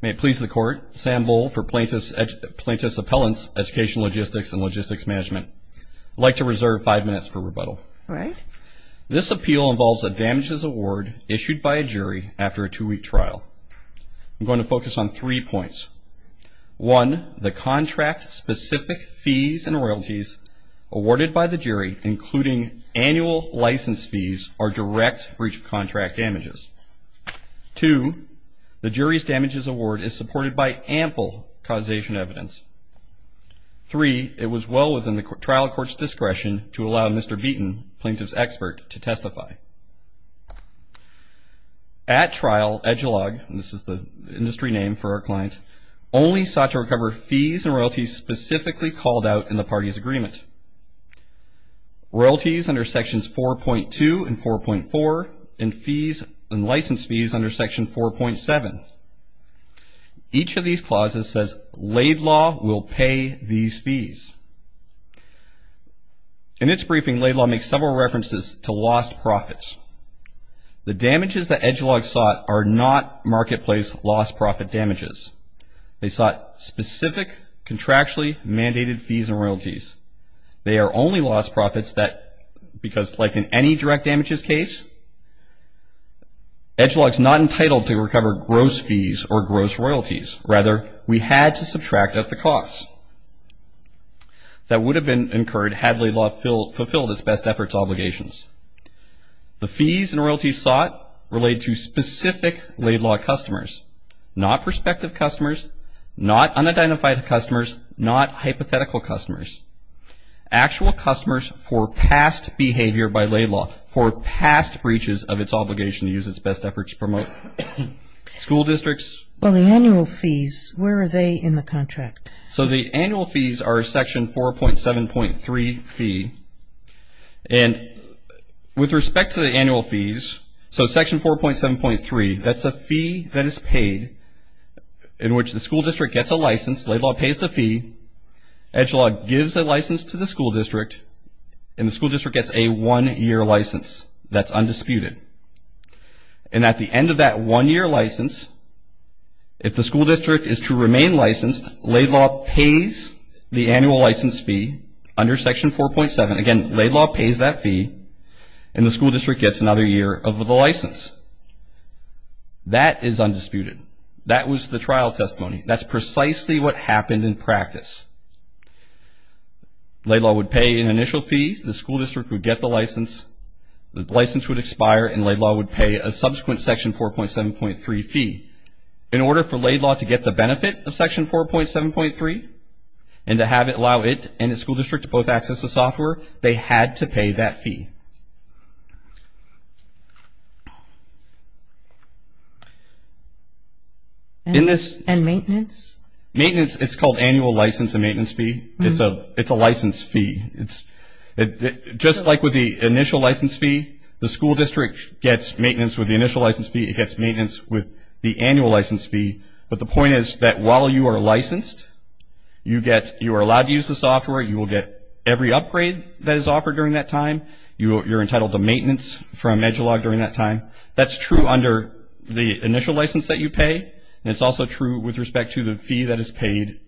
May it please the Court, Sam Voll for Plaintiff's Appellant's Education Logistics and Logistics Management. I'd like to reserve five minutes for rebuttal. All right. This appeal involves a damages award issued by a jury after a two-week trial. I'm going to focus on three points. One, the contract-specific fees and royalties awarded by the jury, including annual license fees or direct breach of contract damages. Two, the jury's damages award is supported by ample causation evidence. Three, it was well within the trial court's discretion to allow Mr. Beaton, plaintiff's expert, to testify. At trial, Edgelog, and this is the industry name for our client, only sought to recover fees and royalties specifically called out in the party's agreement. Royalties under sections 4.2 and 4.4 and fees and license fees under section 4.7. Each of these clauses says Laidlaw will pay these fees. In its briefing, Laidlaw makes several references to lost profits. The damages that Edgelog sought are not marketplace lost profit damages. They sought specific contractually mandated fees and royalties. They are only lost profits because like in any direct damages case, Edgelog is not entitled to recover gross fees or gross royalties. Rather, we had to subtract out the costs that would have been incurred had Laidlaw fulfilled its best efforts obligations. The fees and royalties sought relate to specific Laidlaw customers, not prospective customers, not unidentified customers, not hypothetical customers, actual customers for past behavior by Laidlaw, for past breaches of its obligation to use its best efforts to promote school districts. Well, the annual fees, where are they in the contract? So the annual fees are section 4.7.3 fee, and with respect to the annual fees, so section 4.7.3, that's a fee that is paid in which the school district gets a license, Laidlaw pays the fee, Edgelog gives the license to the school district, and the school district gets a one-year license that's undisputed. And at the end of that one-year license, if the school district is to remain licensed, Laidlaw pays the annual license fee under section 4.7. Again, Laidlaw pays that fee, and the school district gets another year of the license. That is undisputed. That was the trial testimony. That's precisely what happened in practice. Laidlaw would pay an initial fee, the school district would get the license, the license would expire, and Laidlaw would pay a subsequent section 4.7.3 fee. In order for Laidlaw to get the benefit of section 4.7.3 and to allow it and the school district to both access the software, they had to pay that fee. And maintenance? Maintenance, it's called annual license and maintenance fee. It's a license fee. Just like with the initial license fee, the school district gets maintenance with the initial license fee, it gets maintenance with the annual license fee. But the point is that while you are licensed, you are allowed to use the software, you will get every upgrade that is offered during that time, you're entitled to maintenance from Edgelog during that time. That's true under the initial license that you pay, and it's also true with respect to the fee that is paid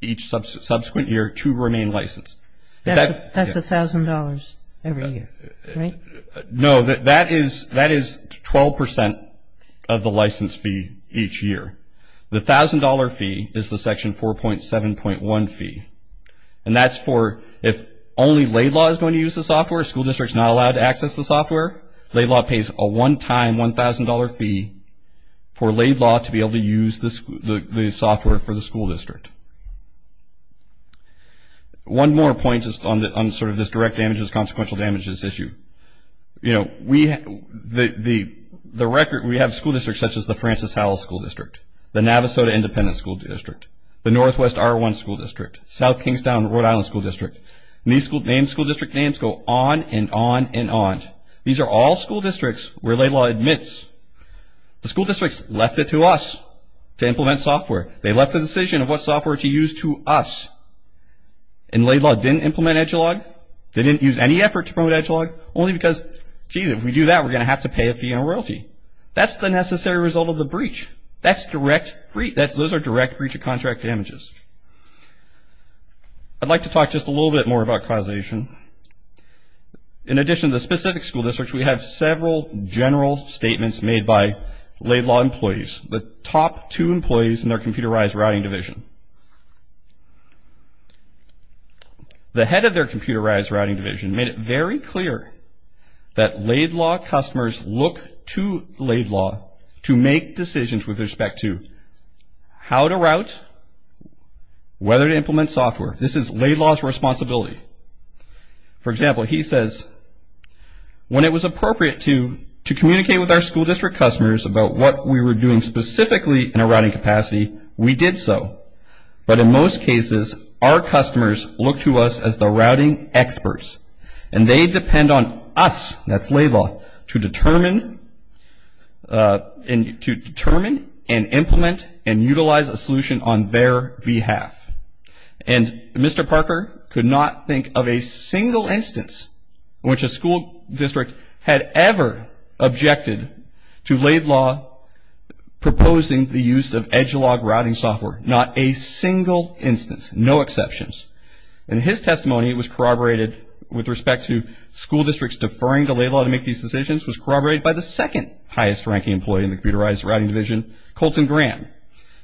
each subsequent year to remain licensed. That's $1,000 every year, right? No, that is 12% of the license fee each year. The $1,000 fee is the section 4.7.1 fee, and that's for if only Laidlaw is going to use the software, the school district is not allowed to access the software, Laidlaw pays a one-time $1,000 fee for Laidlaw to be able to use the software for the school district. One more point on this direct damages, consequential damages issue. We have school districts such as the Francis Howell School District, the Navasota Independent School District, the Northwest R1 School District, South Kingstown and Rhode Island School District, and these school district names go on and on and on. These are all school districts where Laidlaw admits, the school districts left it to us to implement software. They left the decision of what software to use to us, and Laidlaw didn't implement Edgelog, they didn't use any effort to promote Edgelog, only because, gee, if we do that, we're going to have to pay a fee on royalty. That's the necessary result of the breach. That's direct breach. Those are direct breach of contract damages. I'd like to talk just a little bit more about causation. In addition to the specific school districts, we have several general statements made by Laidlaw employees. The top two employees in their computerized routing division. The head of their computerized routing division made it very clear that Laidlaw customers look to Laidlaw to make decisions with respect to how to route, whether to implement software. This is Laidlaw's responsibility. For example, he says, when it was appropriate to communicate with our school district customers about what we were doing specifically in a routing capacity, we did so. But in most cases, our customers look to us as the routing experts, and they depend on us, that's Laidlaw, to determine and implement and utilize a solution on their behalf. And Mr. Parker could not think of a single instance in which a school district had ever objected to Laidlaw proposing the use of Edgelog routing software. Not a single instance. No exceptions. And his testimony was corroborated with respect to school districts deferring to Laidlaw to make these decisions was corroborated by the second highest ranking employee in the computerized routing division, Colton Graham.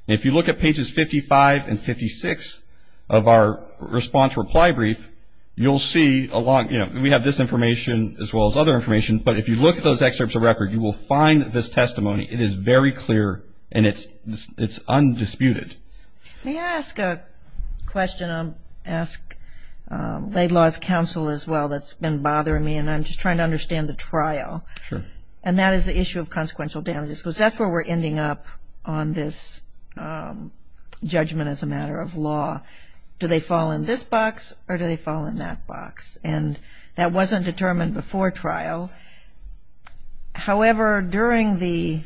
If you look at pages 55 and 56 of our response reply brief, you'll see along, you know, we have this information as well as other information, but if you look at those excerpts of record, you will find this testimony. It is very clear, and it's undisputed. May I ask a question? I'll ask Laidlaw's counsel as well that's been bothering me, and I'm just trying to understand the trial. Sure. And that is the issue of consequential damages, because that's where we're ending up on this judgment as a matter of law. Do they fall in this box or do they fall in that box? And that wasn't determined before trial. However, during the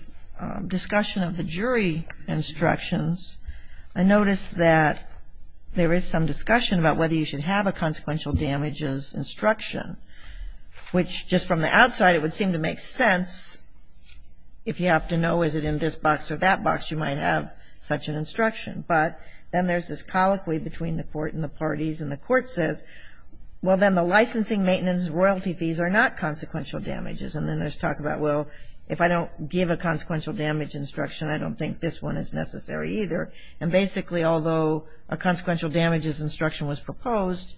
discussion of the jury instructions, I noticed that there is some discussion about whether you should have a consequential damages instruction, which just from the outside it would seem to make sense. If you have to know is it in this box or that box, you might have such an instruction. But then there's this colloquy between the court and the parties, and the court says, well, then the licensing, maintenance, and royalty fees are not consequential damages. And then there's talk about, well, if I don't give a consequential damage instruction, I don't think this one is necessary either. And basically, although a consequential damages instruction was proposed,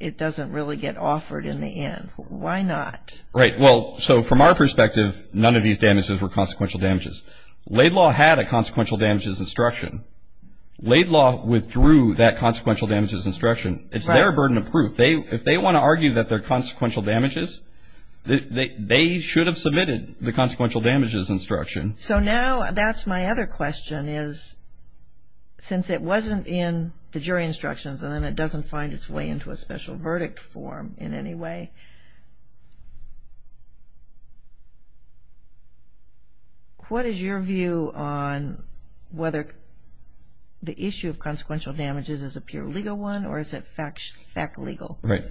it doesn't really get offered in the end. Why not? Right. Well, so from our perspective, none of these damages were consequential damages. Laid law had a consequential damages instruction. Laid law withdrew that consequential damages instruction. It's their burden of proof. If they want to argue that they're consequential damages, they should have submitted the consequential damages instruction. So now that's my other question is since it wasn't in the jury instructions and then it doesn't find its way into a special verdict form in any way, what is your view on whether the issue of consequential damages is a pure legal one or is it fact legal? Right.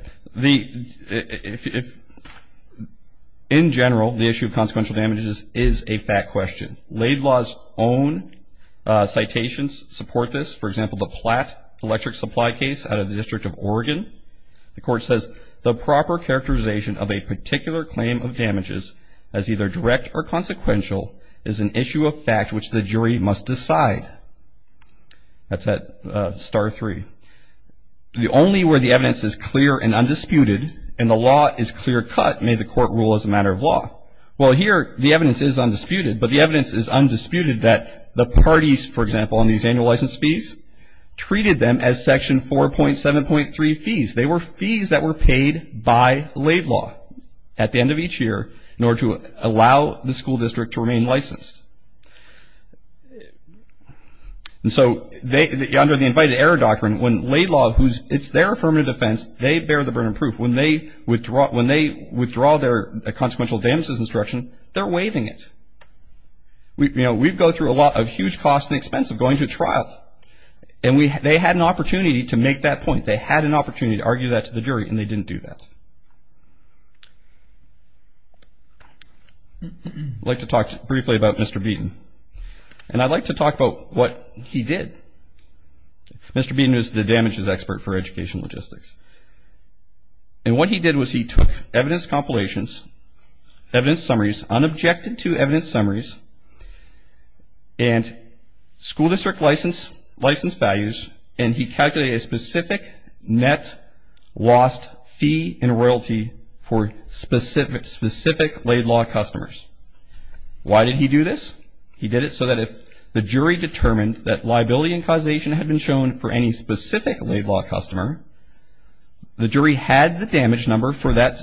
In general, the issue of consequential damages is a fact question. Laid law's own citations support this. For example, the Platt electric supply case out of the District of Oregon, the court says the proper characterization of a particular claim of damages as either direct or consequential is an issue of fact which the jury must decide. That's at star three. The only where the evidence is clear and undisputed and the law is clear cut may the court rule as a matter of law. Well, here the evidence is undisputed, but the evidence is undisputed that the parties, for example, on these annual license fees treated them as section 4.7.3 fees. They were fees that were paid by laid law at the end of each year in order to allow the school district to remain licensed. And so under the invited error doctrine, when laid law, it's their affirmative defense, they bear the burden of proof. When they withdraw their consequential damages instruction, they're waiving it. You know, we've gone through a lot of huge cost and expense of going to trial and they had an opportunity to make that point. They had an opportunity to argue that to the jury and they didn't do that. I'd like to talk briefly about Mr. Beaton. And I'd like to talk about what he did. Mr. Beaton is the damages expert for education logistics. And what he did was he took evidence compilations, evidence summaries, unobjected to evidence summaries and school district license values and he calculated a specific net lost fee in royalty for specific laid law customers. Why did he do this? He did it so that if the jury determined that liability and causation had been shown for any specific laid law customer, the jury had the damage number that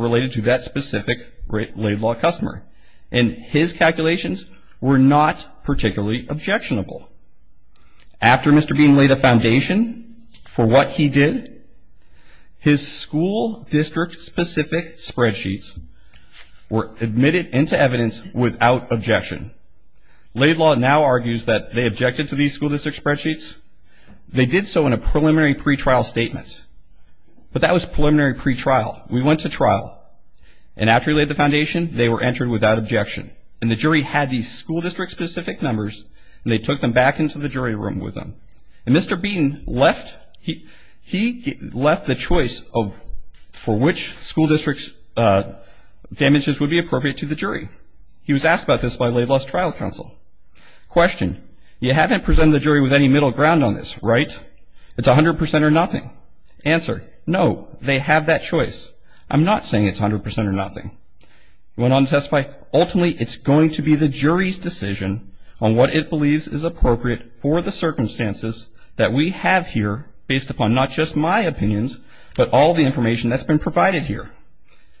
related to that specific laid law customer. And his calculations were not particularly objectionable. After Mr. Beaton laid a foundation for what he did, his school district specific spreadsheets were admitted into evidence without objection. Laid law now argues that they objected to these school district spreadsheets. They did so in a preliminary pretrial statement. But that was preliminary pretrial. We went to trial and after we laid the foundation, they were entered without objection. And the jury had these school district specific numbers and they took them back into the jury room with them. And Mr. Beaton left the choice for which school district damages would be appropriate to the jury. He was asked about this by Laid Law's trial counsel. Question, you haven't presented the jury with any middle ground on this, right? It's 100% or nothing. Answer, no, they have that choice. I'm not saying it's 100% or nothing. Went on to testify, ultimately it's going to be the jury's decision on what it believes is appropriate for the circumstances that we have here based upon not just my opinions but all the information that's been provided here.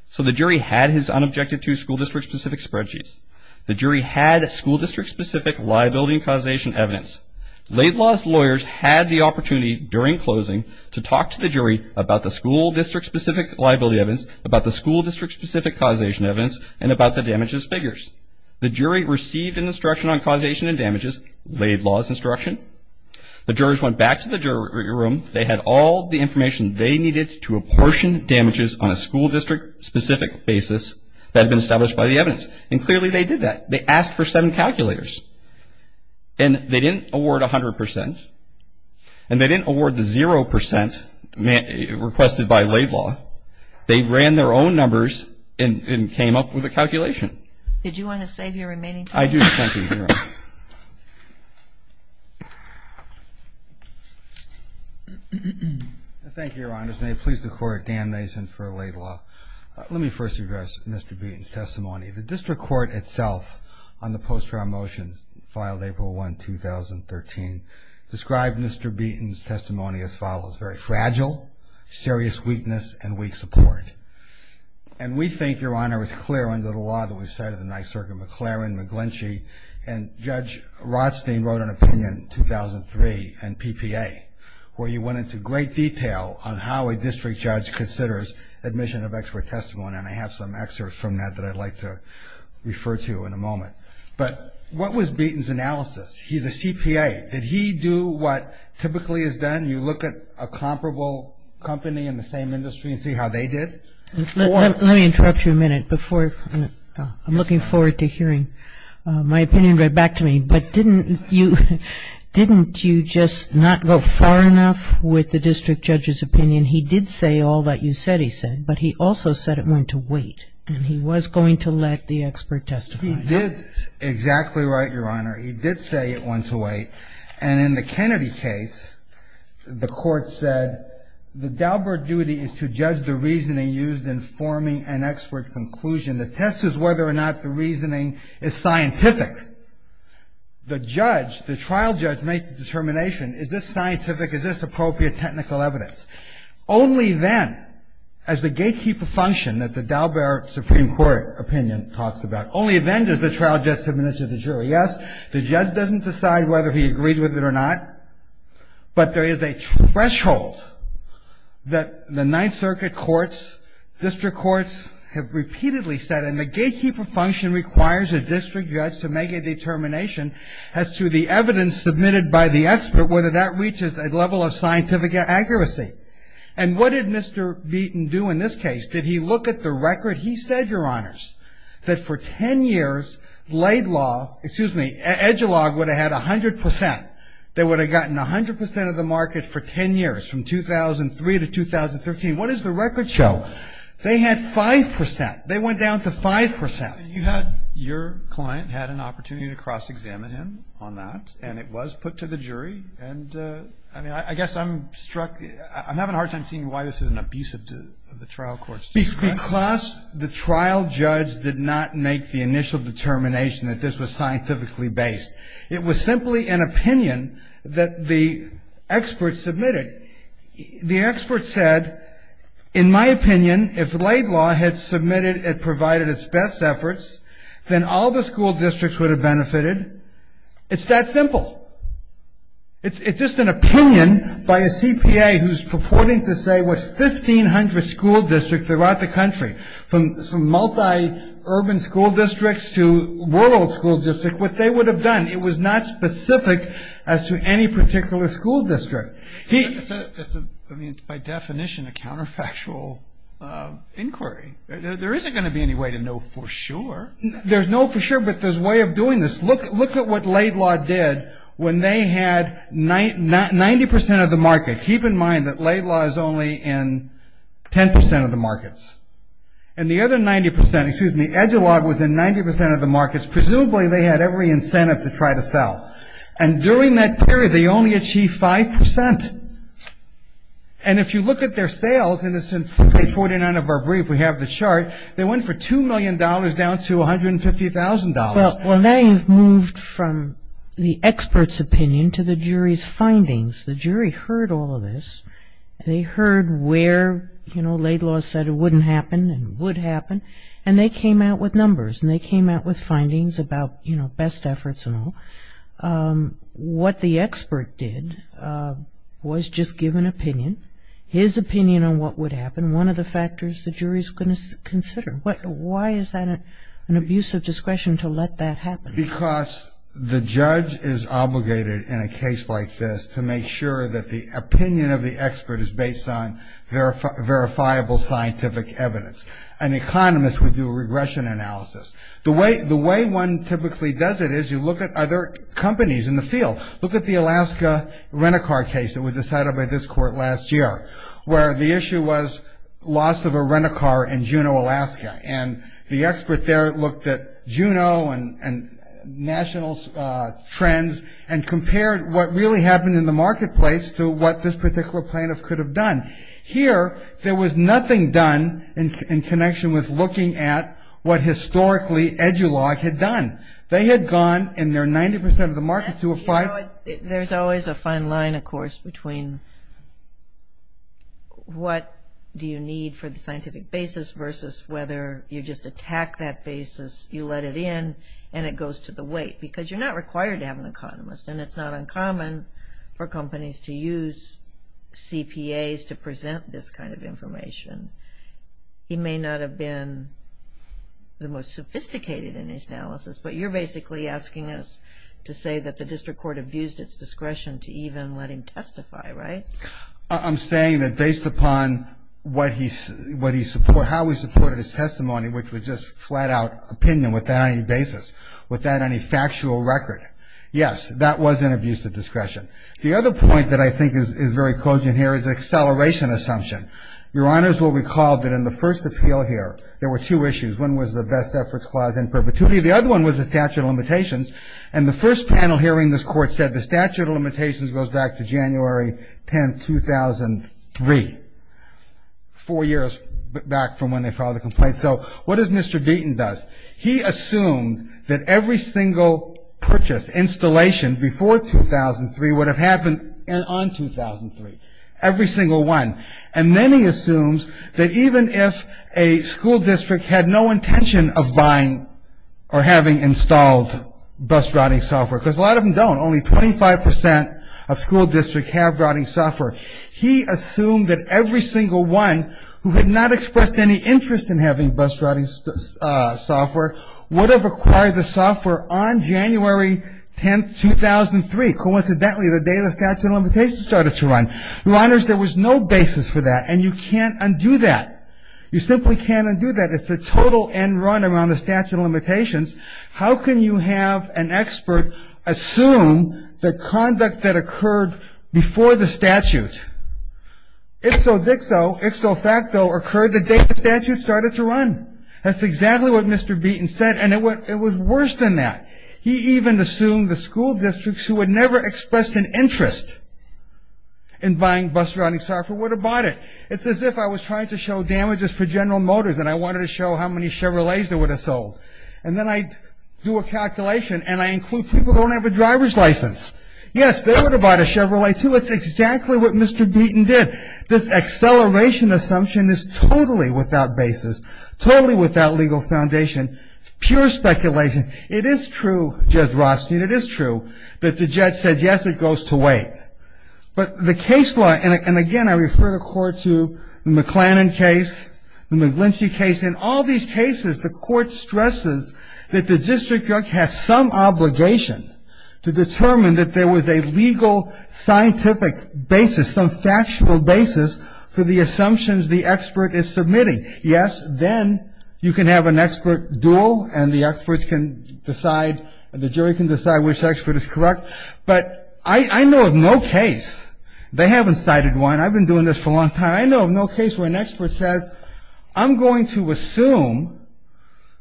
So the jury had his unobjective to school district specific spreadsheets. The jury had school district specific liability and causation evidence. Laid Law's lawyers had the opportunity during closing to talk to the jury about the school district specific liability evidence, about the school district specific causation evidence, and about the damages figures. The jury received an instruction on causation and damages, Laid Law's instruction. The jurors went back to the jury room. They had all the information they needed to apportion damages on a school district specific basis that had been established by the evidence. And clearly they did that. They asked for seven calculators. And they didn't award 100%, and they didn't award the 0% requested by Laid Law. They ran their own numbers and came up with a calculation. Did you want to save your remaining time? I do, thank you, Your Honor. Thank you, Your Honor. May it please the Court, Dan Mason for Laid Law. Let me first address Mr. Beaton's testimony. The district court itself on the post-trial motion filed April 1, 2013, described Mr. Beaton's testimony as follows, very fragile, serious weakness, and weak support. And we think, Your Honor, it's clear under the law that we cited tonight, Circuit McLaren, McGlinchey, and Judge Rothstein wrote an opinion in 2003 in PPA where you went into great detail on how a district judge considers admission of expert testimony. And I have some excerpts from that that I'd like to refer to in a moment. But what was Beaton's analysis? He's a CPA. Did he do what typically is done? You look at a comparable company in the same industry and see how they did? Let me interrupt you a minute. I'm looking forward to hearing my opinion read back to me. But didn't you just not go far enough with the district judge's opinion? He did say all that you said he said. But he also said it went to wait. And he was going to let the expert testify. He did exactly right, Your Honor. He did say it went to wait. And in the Kennedy case, the court said the Daubert duty is to judge the reasoning used in forming an expert conclusion. The test is whether or not the reasoning is scientific. The judge, the trial judge, makes the determination. Is this scientific? Is this appropriate technical evidence? Only then, as the gatekeeper function that the Daubert Supreme Court opinion talks about, only then does the trial judge submit it to the jury. Yes, the judge doesn't decide whether he agrees with it or not. But there is a threshold that the Ninth Circuit courts, district courts have repeatedly said, and the gatekeeper function requires a district judge to make a determination as to the evidence submitted by the expert, whether that reaches a level of scientific accuracy. And what did Mr. Beaton do in this case? Did he look at the record? He said, Your Honors, that for 10 years, Laidlaw, excuse me, Edgelaw would have had 100%. They would have gotten 100% of the market for 10 years, from 2003 to 2013. What does the record show? They had 5%. They went down to 5%. You had your client had an opportunity to cross-examine him on that, and it was put to the jury. And, I mean, I guess I'm struck. I'm having a hard time seeing why this is an abuse of the trial court's discretion. Because the trial judge did not make the initial determination that this was scientifically based. It was simply an opinion that the expert submitted. The expert said, In my opinion, if Laidlaw had submitted and provided its best efforts, then all the school districts would have benefited. It's that simple. It's just an opinion by a CPA who's purporting to say, what, 1,500 school districts throughout the country, from multi-urban school districts to rural school districts, what they would have done. It was not specific as to any particular school district. It's, by definition, a counterfactual inquiry. There isn't going to be any way to know for sure. There's no for sure, but there's a way of doing this. Look at what Laidlaw did when they had 90% of the market. Keep in mind that Laidlaw is only in 10% of the markets. And the other 90%, excuse me, Edgelaw was in 90% of the markets. Presumably, they had every incentive to try to sell. And during that period, they only achieved 5%. And if you look at their sales in this page 49 of our brief, we have the chart, they went from $2 million down to $150,000. Well, now you've moved from the expert's opinion to the jury's findings. The jury heard all of this. They heard where, you know, Laidlaw said it wouldn't happen and would happen. And they came out with numbers and they came out with findings about, you know, best efforts and all. What the expert did was just give an opinion, his opinion on what would happen, one of the factors the jury is going to consider. Why is that an abuse of discretion to let that happen? Because the judge is obligated in a case like this to make sure that the opinion of the expert is based on verifiable scientific evidence. An economist would do a regression analysis. The way one typically does it is you look at other companies in the field. Look at the Alaska rent-a-car case that was decided by this court last year, where the issue was loss of a rent-a-car in Juneau, Alaska. And the expert there looked at Juneau and national trends and compared what really happened in the marketplace to what this particular plaintiff could have done. Here, there was nothing done in connection with looking at what historically Edulog had done. They had gone in their 90% of the market to a five- There's always a fine line, of course, between what do you need for the scientific basis versus whether you just attack that basis, you let it in, and it goes to the weight. Because you're not required to have an economist, and it's not uncommon for companies to use CPAs to present this kind of information. He may not have been the most sophisticated in his analysis, but you're basically asking us to say that the district court abused its discretion to even let him testify, right? I'm saying that based upon how he supported his testimony, which was just flat-out opinion without any basis, without any factual record. Yes, that was an abuse of discretion. The other point that I think is very cogent here is acceleration assumption. Your Honors will recall that in the first appeal here, there were two issues. One was the best efforts clause in perpetuity. The other one was the statute of limitations. And the first panel hearing, this Court said the statute of limitations goes back to January 10, 2003, four years back from when they filed the complaint. So what does Mr. Deaton does? He assumed that every single purchase, installation before 2003 would have happened on 2003. Every single one. And then he assumes that even if a school district had no intention of buying or having installed bus routing software, because a lot of them don't, only 25% of school districts have routing software, he assumed that every single one who had not expressed any interest in having bus routing software would have acquired the software on January 10, 2003. Coincidentally, the day the statute of limitations started to run. Your Honors, there was no basis for that, and you can't undo that. You simply can't undo that. How can you have an expert assume the conduct that occurred before the statute? Ixo dixo, ixo facto occurred the day the statute started to run. That's exactly what Mr. Deaton said, and it was worse than that. He even assumed the school districts who had never expressed an interest in buying bus routing software would have bought it. It's as if I was trying to show damages for General Motors and I wanted to show how many Chevrolets they would have sold. And then I do a calculation and I include people who don't have a driver's license. Yes, they would have bought a Chevrolet, too. It's exactly what Mr. Deaton did. This acceleration assumption is totally without basis, totally without legal foundation, pure speculation. It is true, Judge Rothstein, it is true that the judge said, yes, it goes to wait. But the case law, and again, I refer the Court to the McLennan case, the McGlinsey case, in all these cases the Court stresses that the district judge has some obligation to determine that there was a legal scientific basis, some factual basis, for the assumptions the expert is submitting. Yes, then you can have an expert duel and the experts can decide, the jury can decide which expert is correct. But I know of no case, they haven't cited one, I've been doing this for a long time, but I know of no case where an expert says, I'm going to assume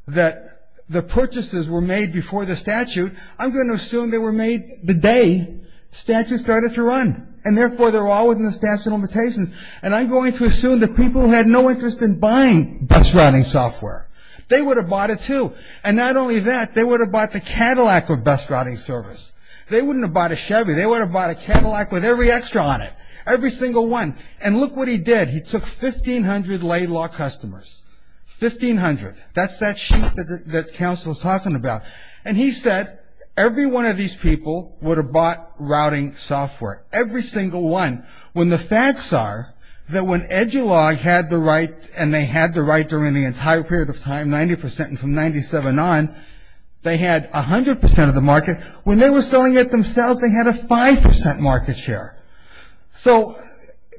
that the purchases were made before the statute. I'm going to assume they were made the day the statute started to run, and therefore they're all within the statute of limitations. And I'm going to assume that people who had no interest in buying bus routing software, they would have bought it, too. And not only that, they would have bought the Cadillac with bus routing service. They wouldn't have bought a Chevy. They would have bought a Cadillac with every extra on it, every single one. And look what he did. He took 1,500 lay law customers, 1,500. That's that sheet that counsel is talking about. And he said every one of these people would have bought routing software, every single one, when the facts are that when Edulog had the right and they had the right during the entire period of time, 90% and from 97 on, they had 100% of the market. When they were selling it themselves, they had a 5% market share. So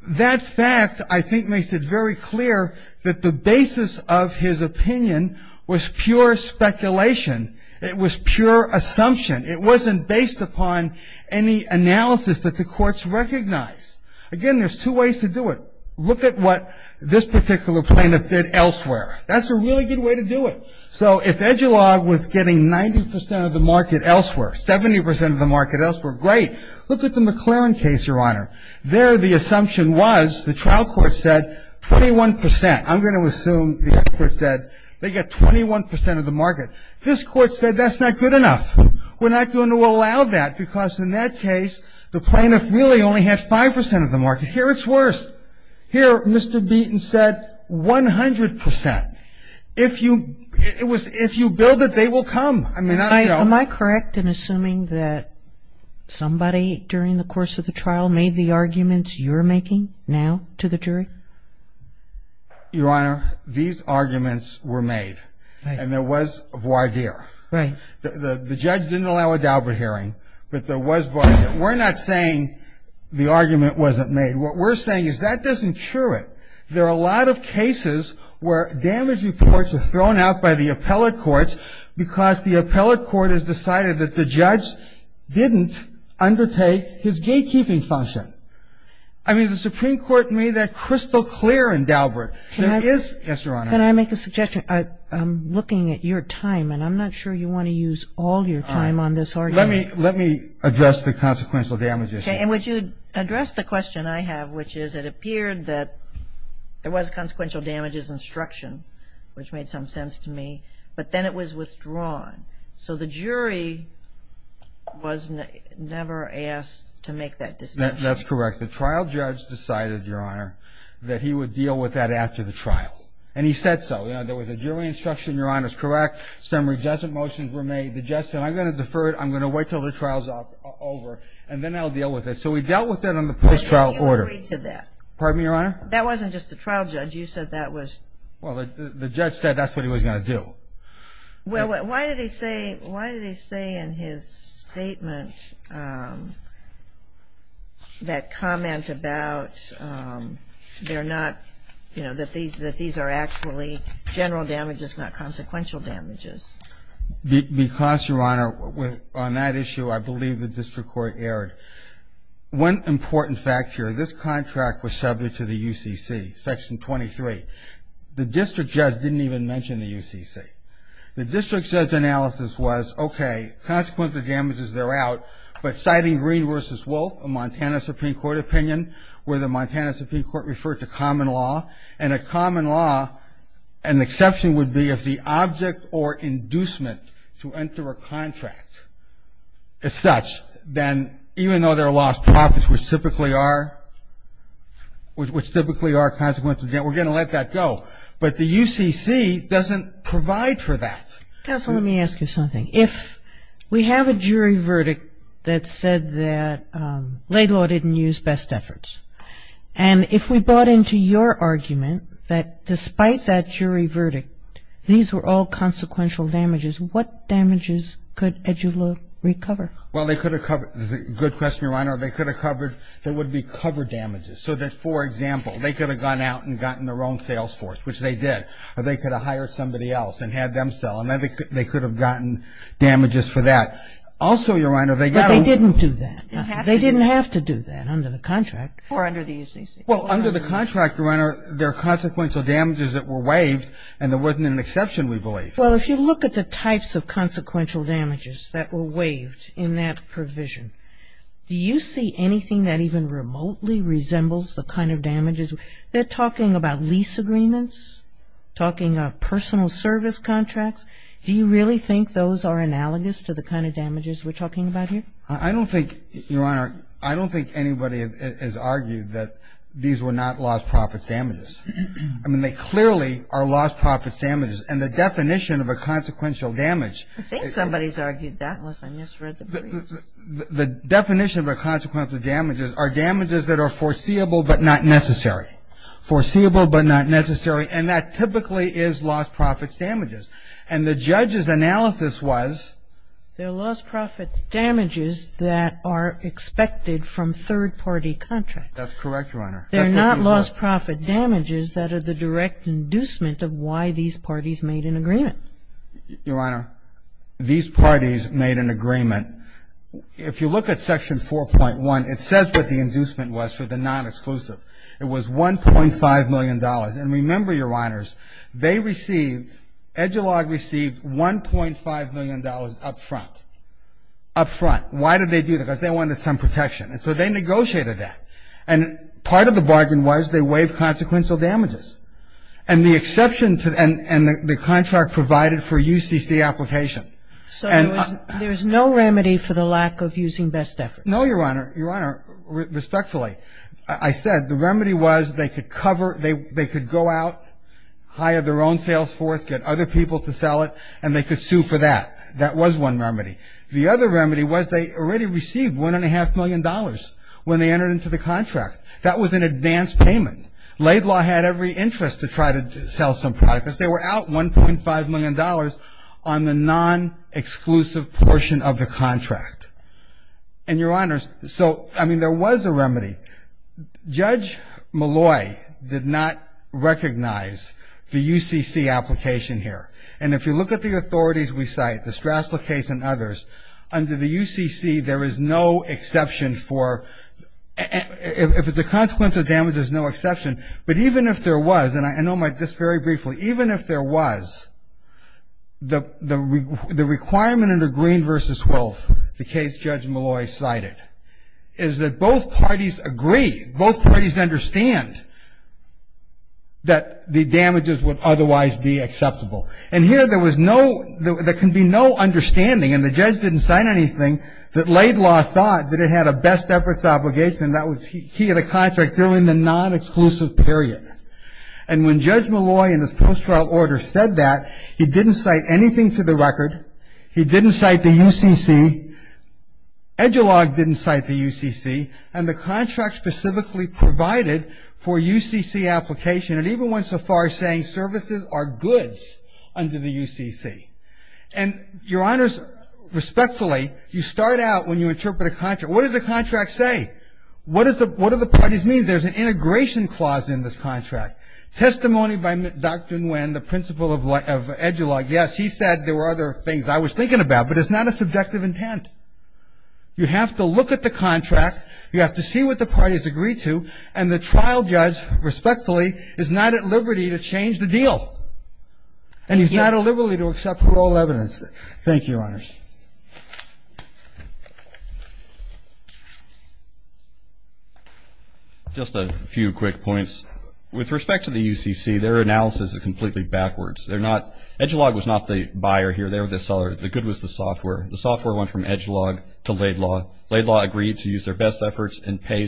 that fact, I think, makes it very clear that the basis of his opinion was pure speculation. It was pure assumption. It wasn't based upon any analysis that the courts recognized. Again, there's two ways to do it. Look at what this particular plaintiff did elsewhere. That's a really good way to do it. So if Edulog was getting 90% of the market elsewhere, 70% of the market elsewhere, great. Look at the McLaren case, Your Honor. There the assumption was the trial court said 21%. I'm going to assume the court said they got 21% of the market. This court said that's not good enough. We're not going to allow that because in that case, the plaintiff really only had 5% of the market. Here it's worse. Here Mr. Beaton said 100%. If you build it, they will come. Am I correct in assuming that somebody during the course of the trial made the arguments you're making now to the jury? Your Honor, these arguments were made. And there was voir dire. Right. The judge didn't allow a Daubert hearing, but there was voir dire. We're not saying the argument wasn't made. What we're saying is that doesn't cure it. There are a lot of cases where damage reports are thrown out by the appellate courts because the appellate court has decided that the judge didn't undertake his gatekeeping function. I mean, the Supreme Court made that crystal clear in Daubert. There is, yes, Your Honor. Can I make a suggestion? I'm looking at your time, and I'm not sure you want to use all your time on this argument. Let me address the consequential damage issue. And would you address the question I have, which is it appeared that there was consequential damages instruction, which made some sense to me, but then it was withdrawn. So the jury was never asked to make that decision. That's correct. The trial judge decided, Your Honor, that he would deal with that after the trial. And he said so. There was a jury instruction, Your Honor, is correct. Some rejected motions were made. The judge said, I'm going to defer it. I'm going to wait until the trial's over, and then I'll deal with it. So we dealt with that on the post-trial order. You agreed to that. Pardon me, Your Honor? That wasn't just the trial judge. You said that was the judge. Well, the judge said that's what he was going to do. Well, why did he say in his statement that comment about they're not, you know, that these are actually general damages, not consequential damages? Because, Your Honor, on that issue, I believe the district court erred. One important fact here, this contract was subject to the UCC, Section 23. The district judge didn't even mention the UCC. The district judge's analysis was, okay, consequential damages, they're out, but citing Green v. Wolf, a Montana Supreme Court opinion, where the Montana Supreme Court referred to common law, and a common law, an exception would be if the object or inducement to enter a contract is such, then even though they're lost profits, which typically are consequential, we're going to let that go. But the UCC doesn't provide for that. Counsel, let me ask you something. If we have a jury verdict that said that Laidlaw didn't use best efforts, and if we bought into your argument that despite that jury verdict, these were all consequential damages, what damages could Edula recover? Well, they could have covered the good question, Your Honor. They could have covered, there would be cover damages. So that, for example, they could have gone out and gotten their own sales force, which they did. Or they could have hired somebody else and had them sell. And then they could have gotten damages for that. Also, Your Honor, they got over. But they didn't do that. They didn't have to do that under the contract. Or under the UCC. Well, under the contract, Your Honor, there are consequential damages that were waived and there wasn't an exception, we believe. Well, if you look at the types of consequential damages that were waived in that provision, do you see anything that even remotely resembles the kind of damages? They're talking about lease agreements, talking about personal service contracts. Do you really think those are analogous to the kind of damages we're talking about here? I don't think, Your Honor, I don't think anybody has argued that these were not lost profits damages. I mean, they clearly are lost profits damages. And the definition of a consequential damage is that the definition of a consequential damages are damages that are foreseeable but not necessary. Foreseeable but not necessary. And that typically is lost profits damages. And the judge's analysis was? They're lost profit damages that are expected from third-party contracts. That's correct, Your Honor. They're not lost profit damages that are the direct inducement of why these parties made an agreement. Your Honor, these parties made an agreement. If you look at Section 4.1, it says what the inducement was for the non-exclusive. It was $1.5 million. And remember, Your Honors, they received, EDULOG received $1.5 million up front. Up front. Why did they do that? Because they wanted some protection. And so they negotiated that. And part of the bargain was they waived consequential damages. And the exception and the contract provided for UCC application. So there's no remedy for the lack of using best efforts? No, Your Honor. Your Honor, respectfully, I said the remedy was they could cover or they could go out, hire their own sales force, get other people to sell it, and they could sue for that. That was one remedy. The other remedy was they already received $1.5 million when they entered into the contract. That was an advanced payment. Laidlaw had every interest to try to sell some product. They were out $1.5 million on the non-exclusive portion of the contract. And, Your Honors, so, I mean, there was a remedy. Judge Malloy did not recognize the UCC application here. And if you look at the authorities we cite, the Strassler case and others, under the UCC, there is no exception for the consequential damage, there's no exception. But even if there was, and I know this very briefly, even if there was, the requirement under Green v. Wolf, the case Judge Malloy cited, is that both parties agree, both parties understand that the damages would otherwise be acceptable. And here there was no, there can be no understanding, and the judge didn't cite anything, that Laidlaw thought that it had a best efforts obligation, that was key to the contract during the non-exclusive period. And when Judge Malloy, in his post-trial order, said that, he didn't cite anything to the record, he didn't cite the UCC, Edgelog didn't cite the UCC, and the contract specifically provided for UCC application, and even went so far as saying services are goods under the UCC. And, Your Honors, respectfully, you start out when you interpret a contract. What does the contract say? What do the parties mean? There's an integration clause in this contract. Testimony by Dr. Nguyen, the principal of Edgelog. Yes, he said there were other things I was thinking about, but it's not a subjective intent. You have to look at the contract, you have to see what the parties agree to, and the trial judge, respectfully, is not at liberty to change the deal. And he's not at liberty to accept parole evidence. Thank you, Your Honors. Just a few quick points. With respect to the UCC, their analysis is completely backwards. Edgelog was not the buyer here, they were the seller. The good was the software. The software went from Edgelog to Laidlaw. Laidlaw agreed to use their best efforts and pay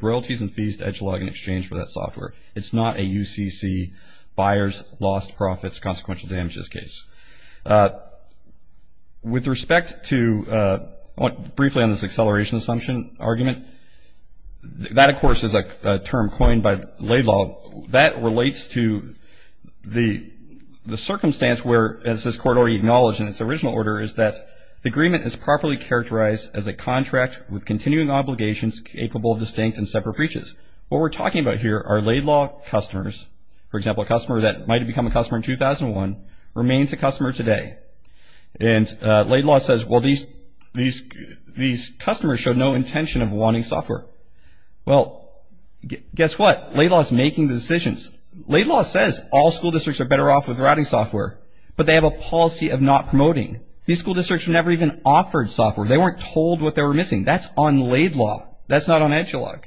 royalties and fees to Edgelog in exchange for that software. It's not a UCC, buyers lost profits, consequential damages case. With respect to briefly on this acceleration assumption argument, that, of course, is a term coined by Laidlaw. That relates to the circumstance where, as this court already acknowledged in its original order, is that the agreement is properly characterized as a contract with continuing obligations capable of distinct and separate breaches. What we're talking about here are Laidlaw customers. For example, a customer that might have become a customer in 2001 remains a customer today. And Laidlaw says, well, these customers showed no intention of wanting software. Well, guess what? Laidlaw is making the decisions. Laidlaw says all school districts are better off with routing software, but they have a policy of not promoting. These school districts never even offered software. They weren't told what they were missing. That's on Laidlaw. That's not on Edgelog.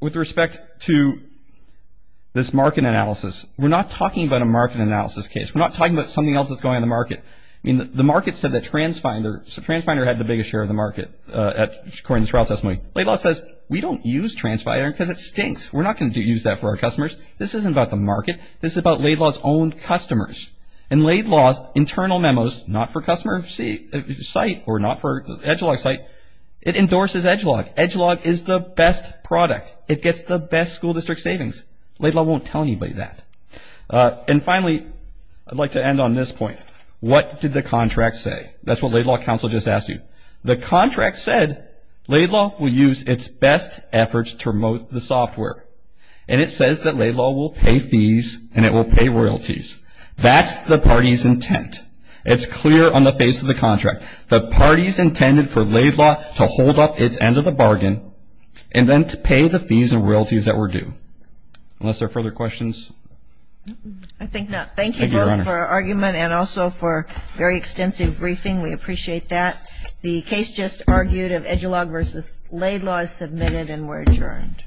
With respect to this market analysis, we're not talking about a market analysis case. We're not talking about something else that's going on in the market. I mean, the market said that TransFinder, so TransFinder had the biggest share of the market according to this trial testimony. Laidlaw says, we don't use TransFinder because it stinks. We're not going to use that for our customers. This isn't about the market. This is about Laidlaw's own customers. And Laidlaw's internal memos, not for customer site or not for Edgelog site, it endorses Edgelog. Edgelog is the best product. It gets the best school district savings. Laidlaw won't tell anybody that. And finally, I'd like to end on this point. What did the contract say? That's what Laidlaw counsel just asked you. The contract said Laidlaw will use its best efforts to promote the software. And it says that Laidlaw will pay fees and it will pay royalties. That's the party's intent. It's clear on the face of the contract. The party's intended for Laidlaw to hold up its end of the bargain and then to pay the fees and royalties that were due. Unless there are further questions. I think not. Thank you both for your argument and also for a very extensive briefing. We appreciate that. The case just argued of Edgelog v. Laidlaw is submitted and we're adjourned.